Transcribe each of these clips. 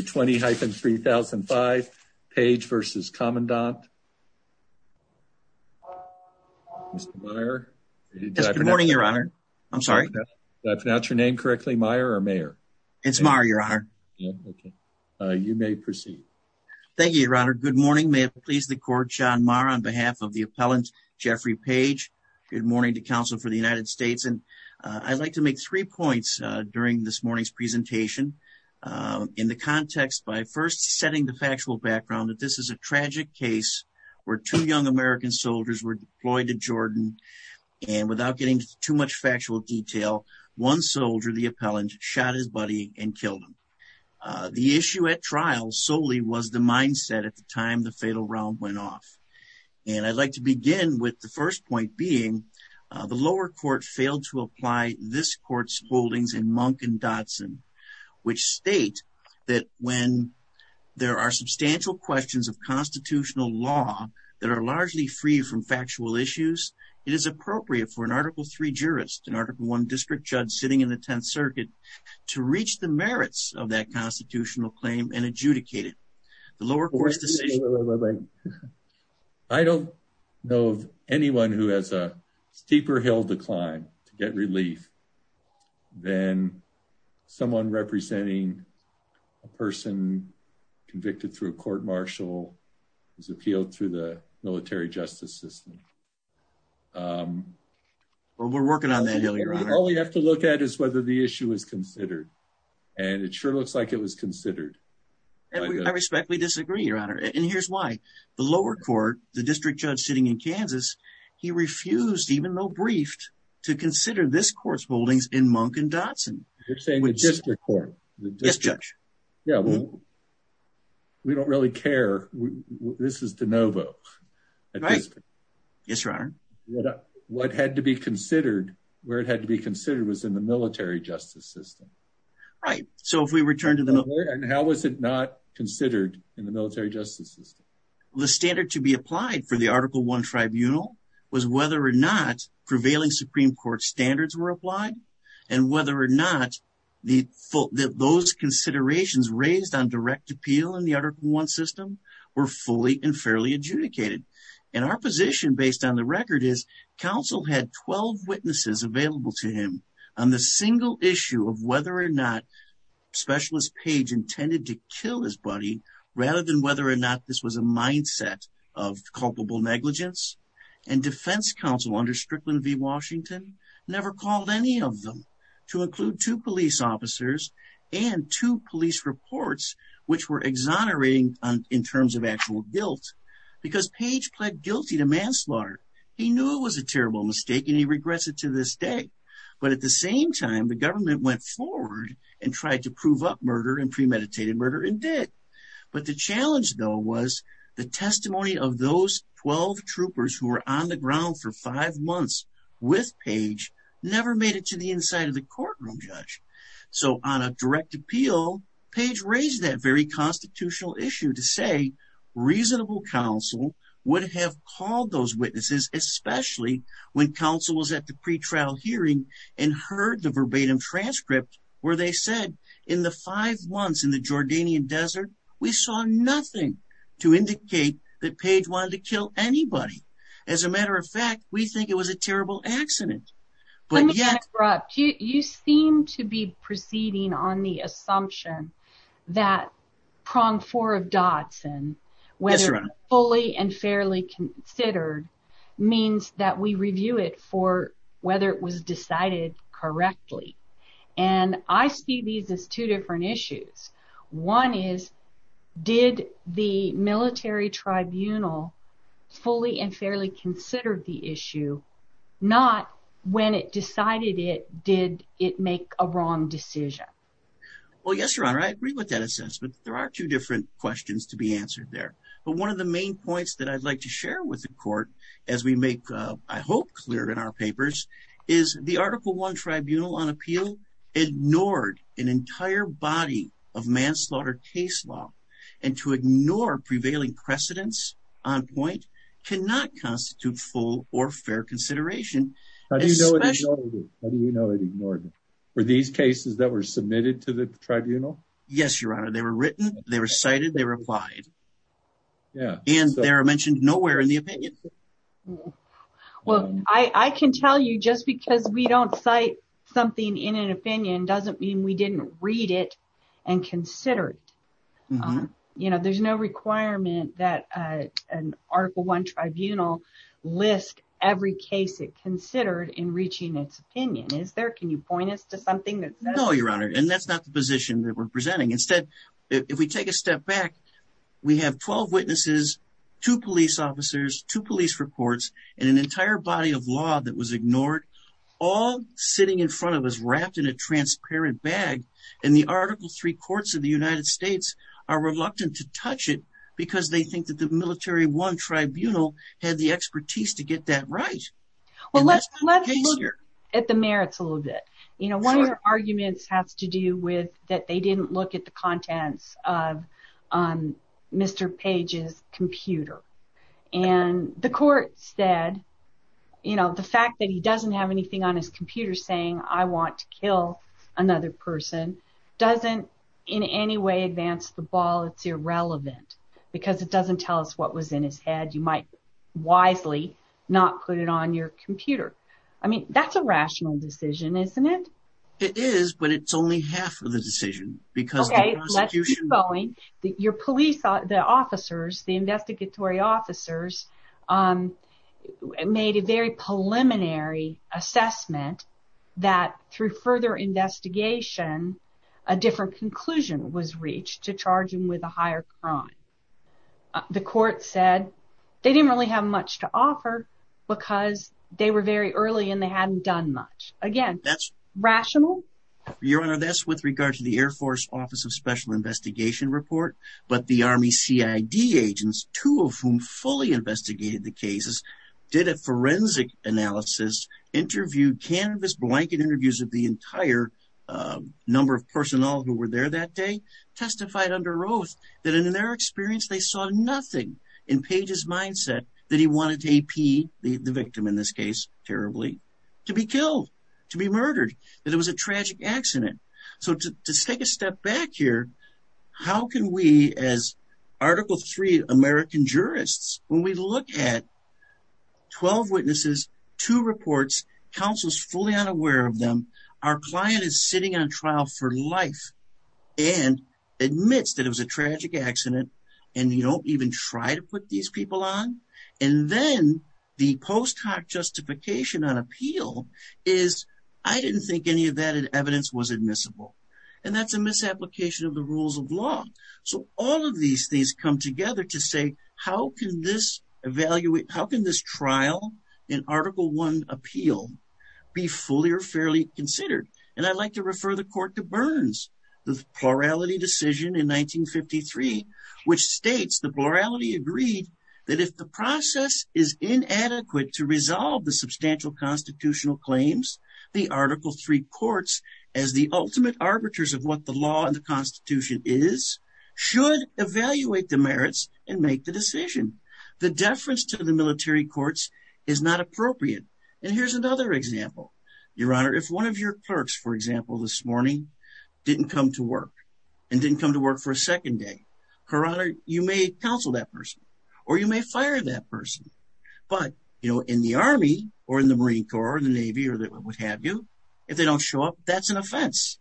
20-3005, Page v. Commandant. Mr. Meyer. Good morning, Your Honor. I'm sorry. Did I pronounce your name correctly? Meyer or Mayer? It's Meyer, Your Honor. You may proceed. Thank you, Your Honor. Good morning. May it please the Court, Sean Meyer on behalf of the appellant, Jeffrey Page. Good morning to counsel for the United States. And I'd like to make three points during this morning's presentation in the context by first setting the factual background that this is a tragic case where two young American soldiers were deployed to Jordan and without getting too much factual detail, one soldier, the appellant, shot his buddy and killed him. The issue at trial solely was the mindset at the time the fatal round went off. And I'd like to begin with the first point being the lower court failed to apply this court's holdings in Monk and which state that when there are substantial questions of constitutional law that are largely free from factual issues. It is appropriate for an article 3 jurist, an article 1 district judge sitting in the 10th Circuit to reach the merits of that constitutional claim and adjudicate it. The lower court's decision... I don't know of anyone who has a steeper hill to climb to get relief than someone representing a person convicted through a court-martial is appealed through the military justice system. We're working on that. All we have to look at is whether the issue is considered and it sure looks like it was considered. I respectfully disagree, Your Honor. And here's why. The lower court, the district judge sitting in Kansas, he failed to apply the lower court's holdings in Monk and Dotson. You're saying the district court? Yes, Judge. Yeah. We don't really care. This is de novo. Right. Yes, Your Honor. What had to be considered, where it had to be considered was in the military justice system. Right. So if we return to the... And how was it not considered in the military justice system? The standard to be applied for the article 1 tribunal was whether or not prevailing Supreme Court standards were applied and whether or not those considerations raised on direct appeal in the article 1 system were fully and fairly adjudicated. And our position based on the record is counsel had 12 witnesses available to him on the single issue of whether or not Specialist Page intended to kill his buddy rather than whether or not this was a mindset of culpable negligence. And defense counsel under Strickland v. Washington never called any of them to include two police officers and two police reports which were exonerating in terms of actual guilt because Page pled guilty to manslaughter. He knew it was a terrible mistake and he regrets it to this day. But at the same time the government went forward and tried to prove up murder and premeditated murder and did. But the challenge though was the testimony of those 12 months with Page never made it to the inside of the courtroom judge. So on a direct appeal Page raised that very constitutional issue to say reasonable counsel would have called those witnesses, especially when counsel was at the pre-trial hearing and heard the verbatim transcript where they said in the five months in the Jordanian Desert, we saw nothing to indicate that Page wanted to kill anybody. As a matter of fact, we think it was a terrible accident. But yet. You seem to be proceeding on the assumption that prong four of Dotson whether fully and fairly considered means that we review it for whether it was decided correctly and I see these as two different issues. One is did the military tribunal fully and fairly considered the issue not when it decided it did it make a wrong decision? Well, yes, your honor. I agree with that assessment. There are two different questions to be answered there. But one of the main points that I'd like to share with the court as we make I hope clear in our papers is the article one tribunal on appeal ignored an entire body of manslaughter case law and to ignore prevailing precedents on point cannot constitute full or fair consideration. How do you know it ignored? Were these cases that were submitted to the tribunal? Yes, your honor. They were written. They were cited. They replied. Yeah, and there are mentioned nowhere in the opinion. Well, I can tell you just because we don't cite something in an opinion doesn't mean we didn't read it and consider it. You know, there's no requirement that an article one tribunal list every case it considered in reaching its opinion. Is there? Can you point us to something? No, your honor. And that's not the position that we're presenting. Instead, if we take a step back, we have 12 witnesses, two police officers, two police reports, and an entire body of law that was ignored all sitting in front of us wrapped in a transparent bag and the article three courts of the United States are reluctant to touch it because they think that the military one tribunal had the expertise to get that right. Well, let's look at the merits a little bit. You know, one of your arguments has to do with that. They didn't look at the contents of Mr. Page's computer and the court said, you know, the fact that he doesn't have anything on his computer saying I want to kill another person doesn't in any way advance the ball. It's irrelevant because it doesn't tell us what was in his head. You might wisely not put it on your computer. I mean, that's a rational decision, isn't it? It is, but it's only half of the decision because Okay, let's keep going. Your police officers, the investigatory officers made a very preliminary assessment that through further investigation a different conclusion was reached to charge him with a higher crime. The court said they didn't really have much to offer because they were very early and they hadn't done much. Again, that's rational. Your Honor, that's with regard to the Air Force Office of Special Investigation Report, but the Army CID agents, two of whom fully investigated the cases, did a forensic analysis, interviewed, canvas blanket interviews of the entire number of personnel who were there that day, testified under oath that in their experience they saw nothing in Page's mindset that he wanted to AP the victim in this case terribly to be killed, to be murdered, that it was a tragic accident. So to take a step back here, how can we as Article 3 American jurists, when we look at 12 witnesses, two reports, counsel's fully unaware of them, our client is sitting on trial for life and admits that it was a tragic accident and you don't even try to put these people on and then the post hoc justification on appeal is I didn't think any of that evidence was admissible and that's a misapplication of the rules of law. So all of these things come together to say, how can this evaluate, how can this trial in Article 1 appeal be fully or fairly considered? And I'd like to refer the court to Burns, the plurality decision in 1953, which states the plurality agreed that if the process is inadequate to resolve the substantial constitutional claims, the Article 3 courts, as the ultimate arbiters of what the law and the Constitution is, should evaluate the merits and make the decision. The deference to the military courts is not appropriate. And here's another example. Your Honor, if one of your clerks, for example, this morning didn't come to work and didn't come to work for a second day, Your Honor, you may counsel that person or you may fire that person. But, you know, in the Army or in the Marine Corps or the Navy or what have you, if they don't show up, that's an offense.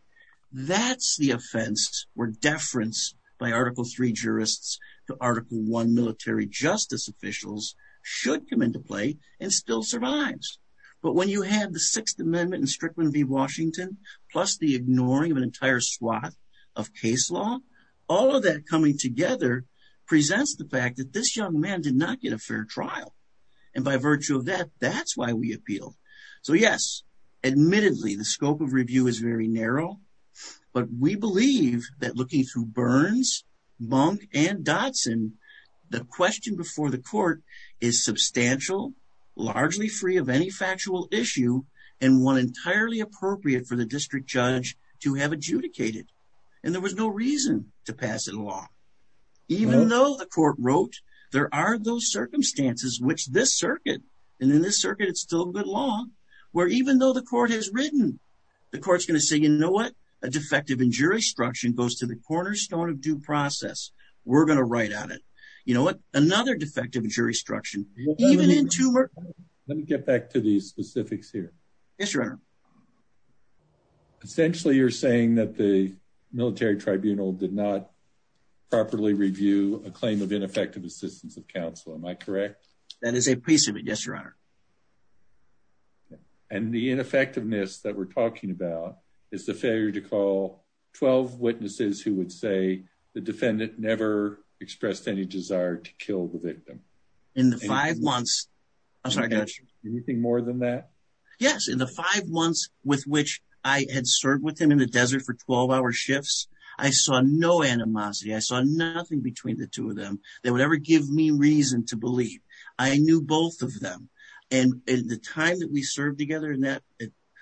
That's the offense where deference by Article 3 jurists to Article 1 military justice officials should come into play and still survives. But when you have the Sixth Amendment in Strickland v. Washington, plus the ignoring of an entire swath of case law, all of that coming together presents the fact that this young man did not get a fair trial. And by virtue of that, that's why we appeal. So yes, admittedly, the scope of review is very narrow, but we believe that looking through Burns, Monk, and Dotson, the question before the court is substantial, largely free of any factual issue and one entirely appropriate for the district judge to have adjudicated. And there was no reason to pass it along. Even though the court wrote, there are those circumstances which this circuit, and in this circuit, it's still good law, where even though the court has written, the court's going to say, you know what? A defective in jurisdiction goes to the cornerstone of due process. We're going to write on it. You know what? Another defective in jurisdiction, even in two... Let me get back to these specifics here. Yes, Your Honor. Essentially, you're saying that the military tribunal did not properly review a claim of ineffective assistance of counsel. Am I correct? That is a piece of it. Yes, Your Honor. And the ineffectiveness that we're talking about is the failure to call 12 witnesses who would say the defendant never expressed any desire to kill the victim. In the five months... Anything more than that? Yes. In the five months with which I had served with him in the desert for 12-hour shifts, I saw no animosity. I saw nothing between the two of them that would ever give me reason to believe. I knew both of them. And in the time that we served together in that,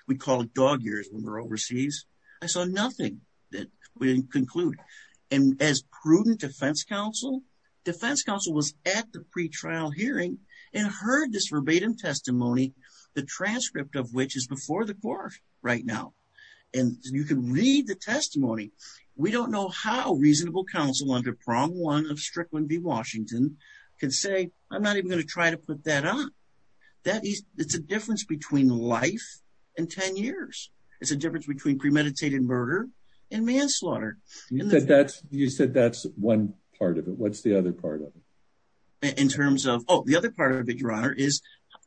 we call it dog years when we're overseas, I saw nothing that we didn't conclude. And as prudent defense counsel, defense counsel was at the pretrial hearing and heard this verbatim testimony, the transcript of which is before the court right now. And you can read the testimony. We don't know how reasonable counsel under Prong 1 of Strickland v. Washington can say, I'm not even going to try to put that on. That is... It's a difference between life and 10 years. It's a difference between premeditated murder and manslaughter. You said that's one part of it. What's the other part of it? In terms of... Oh, the other part of it, Your Honor, is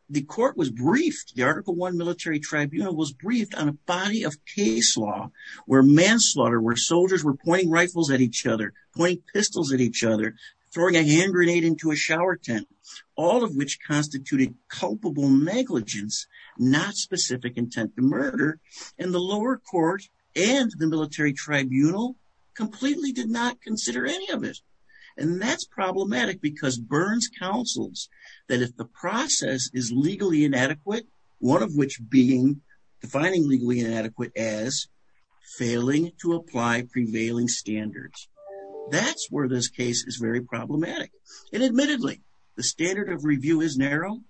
the court was briefed. The Article 1 Military Tribunal was briefed on a body of case law where manslaughter, where soldiers were pointing rifles at each other, pointing pistols at each other, throwing a hand grenade into a shower tent, all of which constituted culpable negligence, not specific intent to murder. And the lower court and the Military Tribunal completely did not consider any of it. And that's problematic because Burns counsels that if the process is legally inadequate, one of which being defining legally inadequate as failing to apply prevailing standards. That's where this case is very problematic. And admittedly, the standard of review is narrow.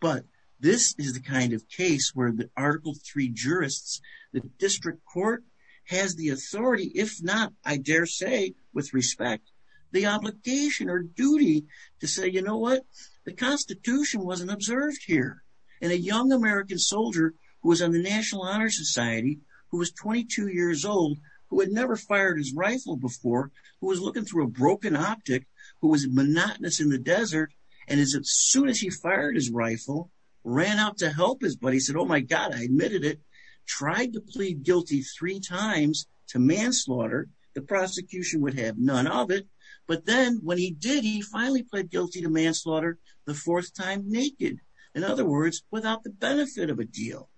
But this is the kind of case where the Article 3 jurists, the district court, has the authority, if not, I dare say, with respect, the obligation or duty to say, you know what? The Constitution wasn't observed here. And a young American soldier who was on the National Honor Society, who was 22 years old, who had never fired his rifle before, who was looking through a broken optic, who was monotonous in the desert, and as soon as he fired his rifle, ran out to help his buddy, said, oh my God, I admitted it, tried to plead guilty three times to manslaughter. The prosecution would have none of it. But then when he did, he finally pled guilty to manslaughter the fourth time naked. In other words, without the benefit of a deal.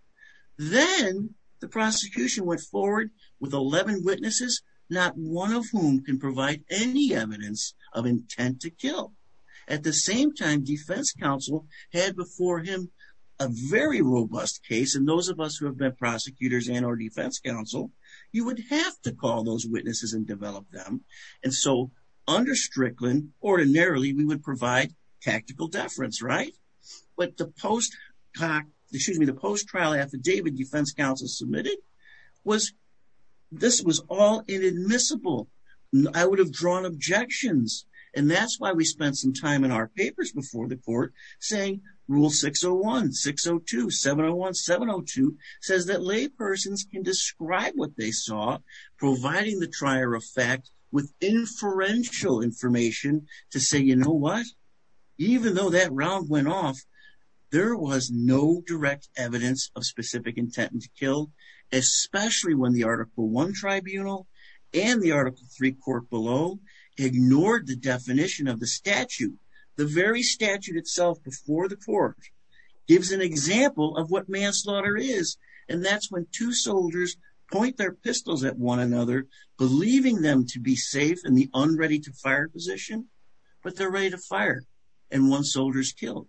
Then, the prosecution went forward with 11 witnesses, not one of whom can provide any evidence of intent to kill. At the same time, defense counsel had before him a very robust case. And those of us who have been prosecutors and our defense counsel, you would have to call those witnesses and develop them. And so, under Strickland, ordinarily, we would provide tactical deference, right? But the post-trial affidavit defense counsel submitted was, this was all inadmissible. I would have drawn objections. And that's why we spent some time in our papers before the court saying, rule 601, 602, 701, 702 says that laypersons can describe what they saw, providing the trier of fact with inferential information to say, you know what? Even though that round went off, there was no direct evidence of specific intent to kill, especially when the Article 1 tribunal and the Article 3 court below ignored the definition of the statute. The very statute itself before the court gives an example of what manslaughter is. And that's when two soldiers point their pistols at one another, believing them to be safe in the unready-to-fire position, but they're ready to fire and one soldier's killed.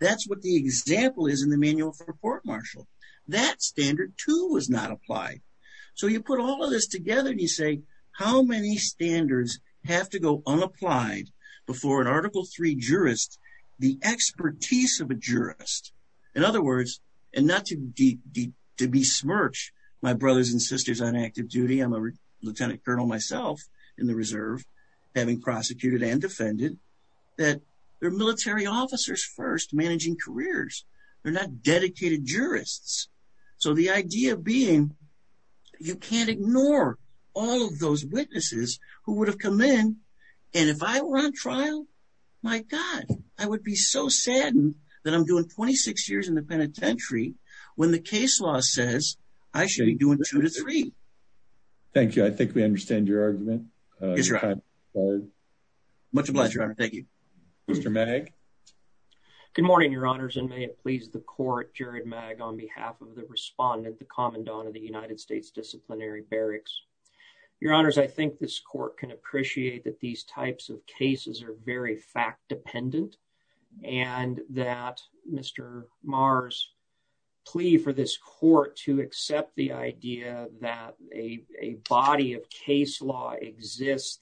That's what the example is in the manual for a court-martial. That standard, too, was not applied. So, you put all of this together and you say, how many standards have to go unapplied before an Article 3 jurist, the expertise of a jurist, in other words, and not to besmirch my brothers and sisters on active duty, I'm a lieutenant colonel myself in the Reserve, having prosecuted and defended, that they're military officers first, managing careers. They're not dedicated jurists. So, the idea being you can't ignore all of those witnesses who would have come in and if I were on trial, my God, I would be so saddened that I'm doing 26 years in the penitentiary when the case law says I should be doing two to three. Thank you. I think we understand your argument. Yes, Your Honor. Much obliged, Your Honor. Thank you. Mr. Mag. Good morning, Your Honors, and may it please the Court, Jared Mag, on behalf of the respondent, the Commandant of the United States Disciplinary Barracks. Your Honors, I think this Court can appreciate that these types of cases are very fact-dependent and that Mr. Marr's plea for this Court to accept the idea that a body of case law exists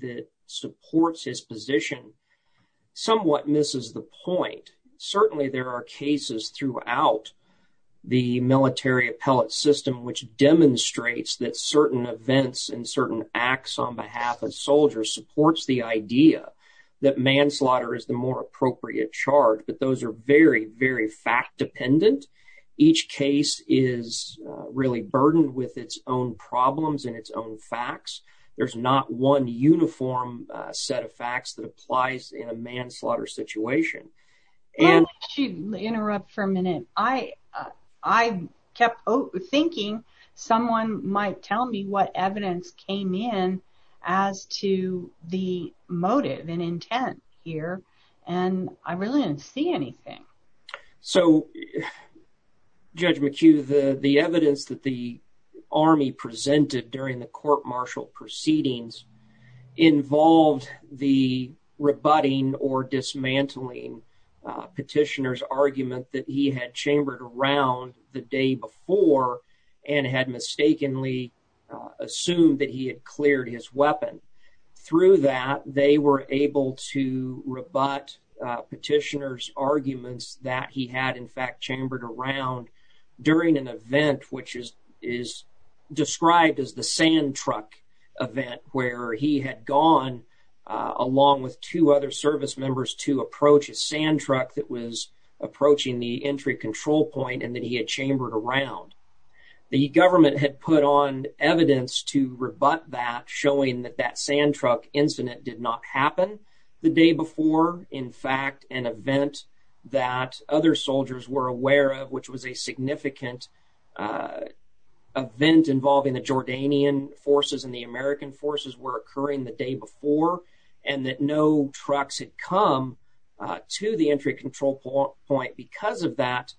that supports his position somewhat misses the point. Certainly, there are cases throughout the military appellate system which demonstrates that certain events and certain acts on behalf of soldiers supports the idea that manslaughter is the more appropriate charge, but those are very, very fact-dependent. Each case is really burdened with its own problems and its own facts. There's not one uniform set of facts that applies in a manslaughter situation. Why don't you interrupt for a minute? I kept thinking someone might tell me what evidence came in as to the motive and intent here, and I really didn't see anything. So, Judge McHugh, the evidence that the Army presented during the court-martial proceedings involved the rebutting or dismantling petitioner's argument that he had chambered around the day before and had mistakenly assumed that he had cleared his weapon. Through that, they were able to rebut petitioner's arguments that he had, in fact, chambered around during an event which is described as the sand truck event, where he had gone, along with two other service members, to approach a sand truck that was approaching the entry control point and that he had chambered around. The government had put on evidence to rebut that, showing that that sand truck incident did not happen the day before. In fact, an event that other soldiers were aware of, which was a significant event involving the Jordanian forces and the American forces were occurring the day before, and that no trucks had come to the entry control point because of that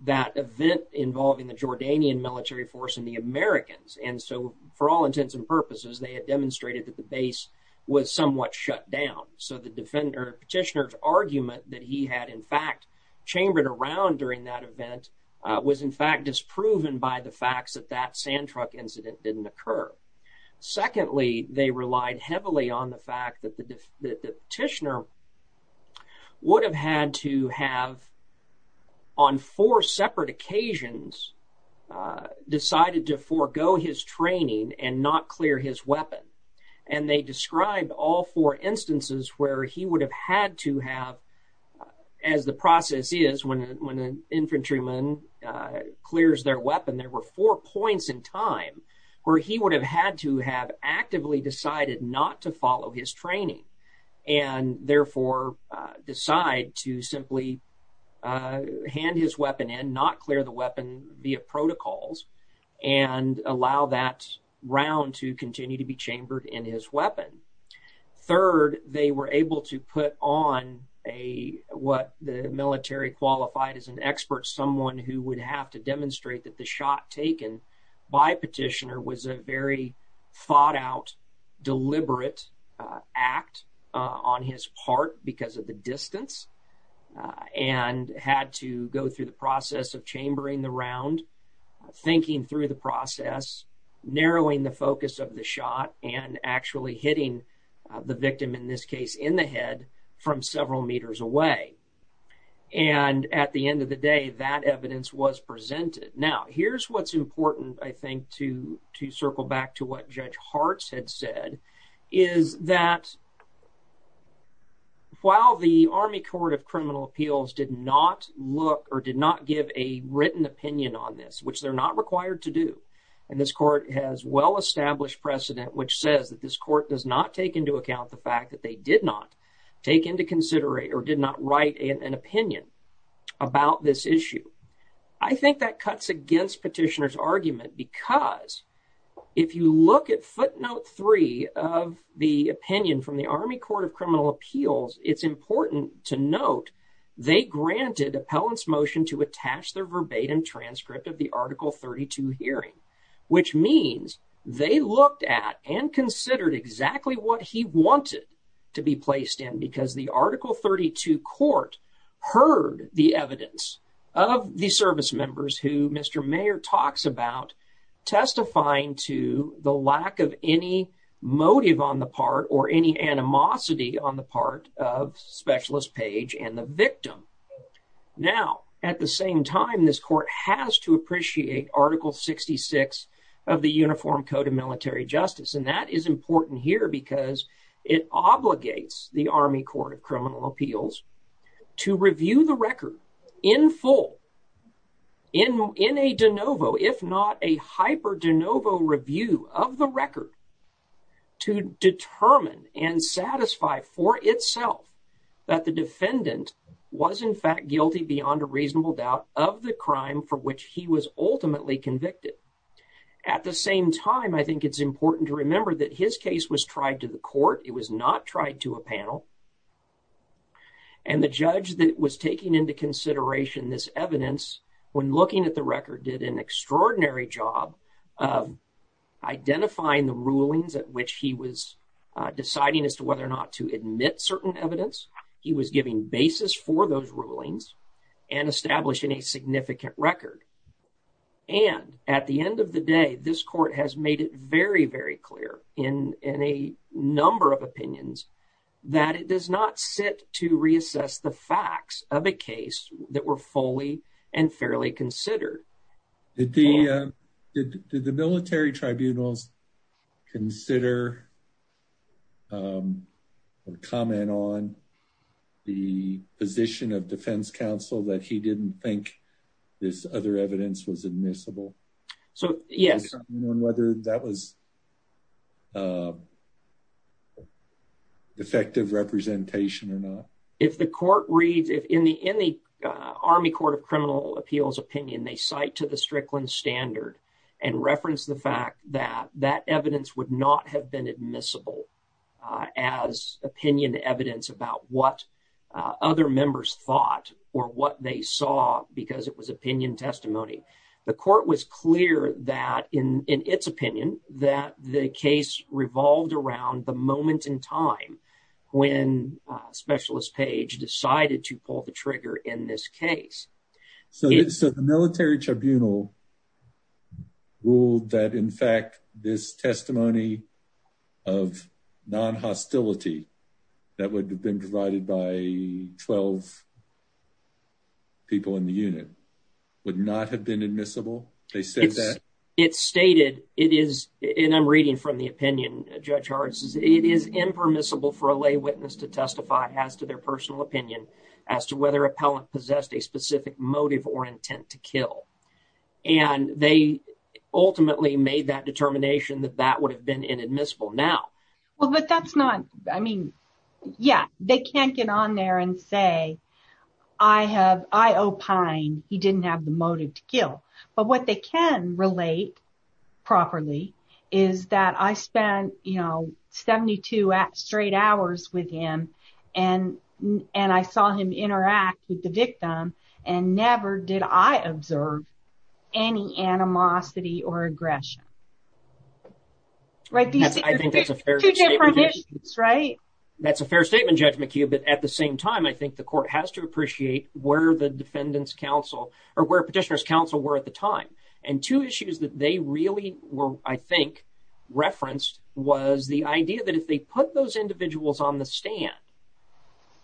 event involving the Jordanian military force and the Americans. And so, for all intents and purposes, they had demonstrated that the base was somewhat shut down. So the petitioner's argument that he had, in fact, chambered around during that event was, in fact, disproven by the facts that that sand truck incident didn't occur. Secondly, they relied heavily on the fact that the petitioner would have had to have, on four separate occasions, decided to forego his training and not clear his weapon. And they described all four instances where he would have had to have, as the process is, when an infantryman clears their weapon, there were four points in time where he would have had to have actively decided not to follow his training and, therefore, decide to simply hand his weapon in, not clear the weapon via protocols, and allow that round to continue to be chambered in his weapon. Third, they were able to put on what the military qualified as an expert, someone who would have to demonstrate that the shot taken by a petitioner was a very thought-out, deliberate act on his part because of the distance. And had to go through the process of chambering the round, thinking through the process, narrowing the focus of the shot, and actually hitting the victim, in this case, in the head from several meters away. And at the end of the day, that evidence was presented. Now, here's what's important, I think, to circle back to what Judge Hartz had said, is that while the Army Court of Criminal Appeals did not look or did not give a written opinion on this, which they're not required to do, and this court has well-established precedent which says that this court does not take into account the fact that they did not take into consideration or did not write an opinion about this issue, petitioner's argument because if you look at footnote three of the opinion from the Army Court of Criminal Appeals, it's important to note they granted appellant's motion to attach their verbatim transcript of the Article 32 hearing, which means they looked at and considered exactly what he wanted to be placed in, because the Article 32 court heard the evidence of the service members who Mr. Mayer talks about testifying to the lack of any motive on the part or any answer to the question. Any animosity on the part of Specialist Page and the victim. Now, at the same time, this court has to appreciate Article 66 of the Uniform Code of Military Justice, and that is important here because it obligates the Army Court of Criminal Appeals to review the record in full, in a de novo, if not a hyper de novo review of the record to determine and satisfy for itself that the defendant was in fact guilty beyond a reasonable doubt of the crime for which he was ultimately convicted. At the same time, I think it's important to remember that his case was tried to the court, it was not tried to a panel, and the judge that was taking into consideration this evidence, when looking at the record, did an extraordinary job of identifying the rulings at which he was deciding as to whether or not to admit certain evidence. He was giving basis for those rulings and establishing a significant record. And at the end of the day, this court has made it very, very clear in a number of opinions that it does not sit to reassess the facts of a case that were fully and fairly considered. Did the military tribunals consider or comment on the position of defense counsel that he didn't think this other evidence was admissible? So, yes. And whether that was effective representation or not? If the court reads, in the Army Court of Criminal Appeals opinion, they cite to the Strickland Standard and reference the fact that that evidence would not have been admissible as opinion evidence about what other members thought or what they saw because it was opinion testimony. The court was clear that, in its opinion, that the case revolved around the moment in time when Specialist Page decided to pull the trigger in this case. So, the military tribunal ruled that, in fact, this testimony of non-hostility that would have been provided by 12 people in the unit would not have been admissible? They said that? It stated, it is, and I'm reading from the opinion, Judge Hartz, it is impermissible for a lay witness to testify as to their personal opinion as to whether appellant possessed a specific motive or intent to kill. And they ultimately made that determination that that would have been inadmissible now. Well, but that's not, I mean, yeah, they can't get on there and say, I have, I opine he didn't have the motive to kill. But what they can relate properly is that I spent, you know, 72 straight hours with him and and I saw him interact with the victim and never did I observe any animosity or aggression. Right? I think that's a fair statement, right? That's a fair statement, Judge McHugh, but at the same time, I think the court has to appreciate where the defendant's counsel, or where petitioner's counsel were at the time. And two issues that they really were, I think, referenced was the idea that if they put those individuals on the stand,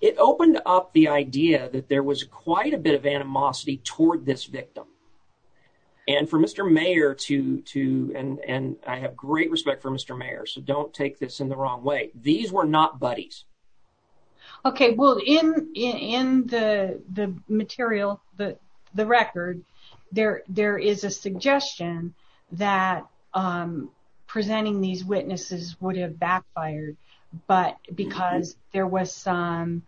it opened up the idea that there was quite a bit of animosity toward this victim. And for Mr. Mayer to, and I have great respect for Mr. Mayer, so don't take this in the wrong way. These were not buddies. Okay, well, in the material, the record, there is a suggestion that presenting these witnesses would have backfired, but because there was some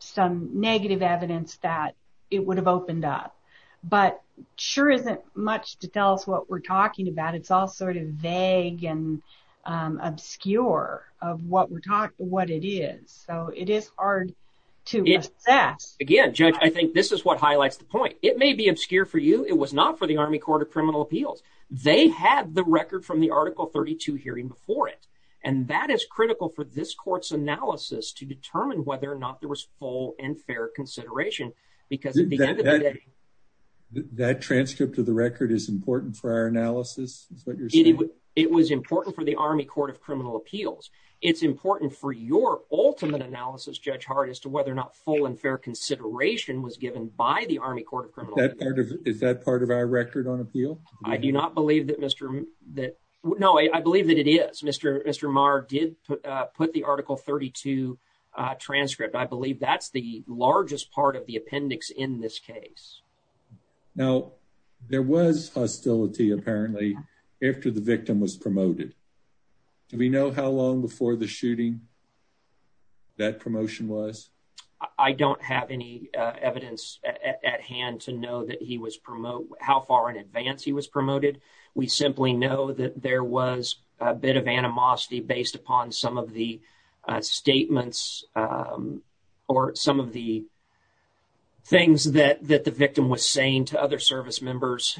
some negative evidence that it would have opened up, but sure isn't much to tell us what we're talking about. It's all sort of vague and obscure of what we're talking, what it is. So it is hard to assess. Again, Judge, I think this is what highlights the point. It may be obscure for you. It was not for the Army Court of Criminal Appeals. They had the record from the Article 32 hearing before it, and that is critical for this court's analysis to determine whether or not there was full and fair consideration because at the end of the day, That transcript of the record is important for our analysis? Is that what you're saying? It was important for the Army Court of Criminal Appeals. It's important for your ultimate analysis, Judge Hart, as to whether or not full and fair consideration was given by the Army Court of Criminal Appeals. Is that part of our record on appeal? I do not believe that Mr., that, no, I believe that it is. Mr., Mr. Maher did put the Article 32 transcript. I believe that's the largest part of the appendix in this case. Now, there was hostility apparently after the victim was promoted. Do we know how long before the shooting that promotion was? I don't have any evidence at hand to know that he was promote, how far in advance he was promoted. We simply know that there was a bit of animosity based upon some of the statements or some of the things that the victim was saying to other service members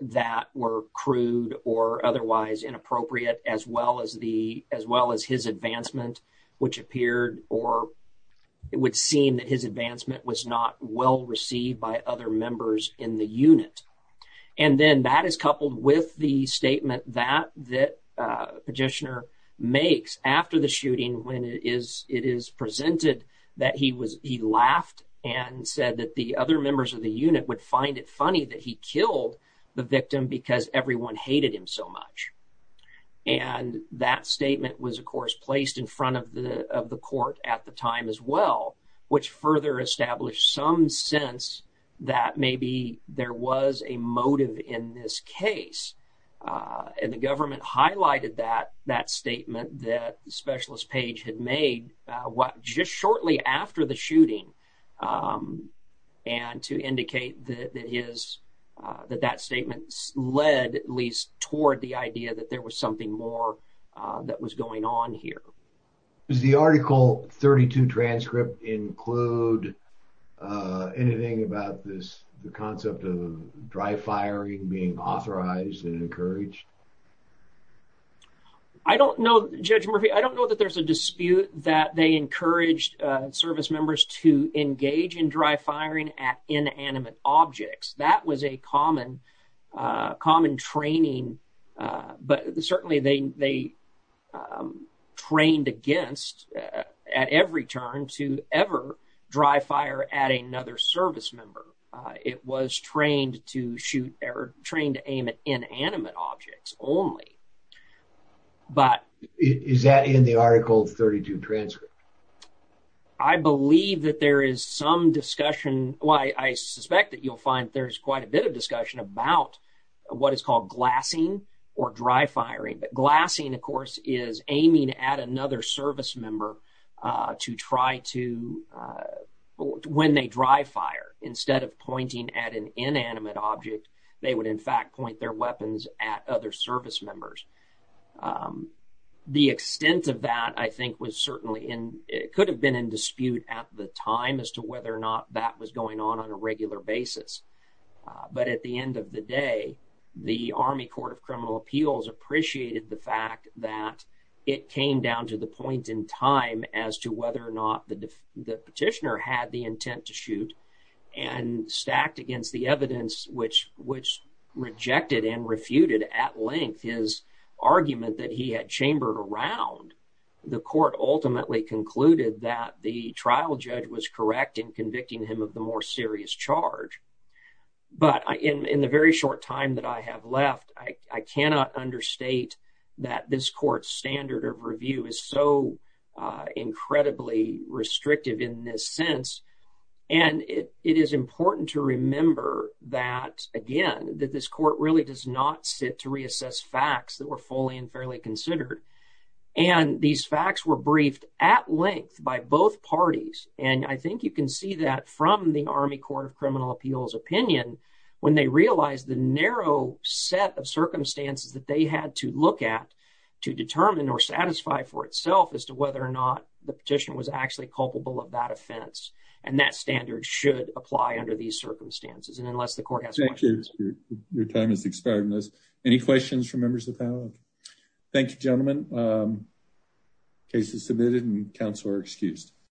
that were crude or otherwise inappropriate as well as the, as well as his advancement, which appeared or it would seem that his advancement was not well received by other members in the unit. And then that is coupled with the statement that, that petitioner makes after the shooting when it is, it is presented that he was, he laughed and said that the other members of the unit would find it funny that he killed the victim because everyone hated him so much. And that statement was of course placed in front of the, of the court at the time as well, which further established some sense that maybe there was a motive in this case and the government highlighted that, that statement that Specialist Page had made just shortly after the shooting and to indicate that it is, that that statement led at least toward the idea that there was something more that was going on here. Does the article 32 transcript include anything about this, the concept of dry firing being authorized and encouraged? I don't know, Judge Murphy, I don't know that there's a dispute that they encouraged service members to engage in dry firing at inanimate objects. That was a common, common training, but certainly they, they at every turn to ever dry fire at another service member. It was trained to shoot, or trained to aim at inanimate objects only. But is that in the article 32 transcript? I believe that there is some discussion, well, I suspect that you'll find there's quite a bit of discussion about what is called glassing or dry firing, but glassing, of course, is aiming at another service member to try to, when they dry fire instead of pointing at an inanimate object, they would in fact point their weapons at other service members. The extent of that I think was certainly in, it could have been in dispute at the time as to whether or not that was going on on a regular basis. But at the end of the day, the Army Court of Criminal Appeals appreciated the fact that it came down to the point in time as to whether or not the petitioner had the intent to shoot and stacked against the evidence which, which rejected and refuted at length his argument that he had chambered around. The court ultimately concluded that the trial judge was correct in convicting him of the more serious charge. But in the very short time that I have left, I cannot understate that this court's standard of review is so incredibly restrictive in this sense. And it is important to remember that, again, that this court really does not sit to reassess facts that were fully and fairly considered. And these facts were briefed at length by both parties. And I think you can see that from the Army Court of Criminal Appeals opinion, when they realized the narrow set of circumstances that they had to look at to determine or satisfy for itself as to whether or not the petitioner was actually culpable of that offense. And that standard should apply under these circumstances. And unless the court has questions. Thank you. Your time has expired. Any questions from members of the panel? Thank you, gentlemen. Case is submitted and counsel are excused.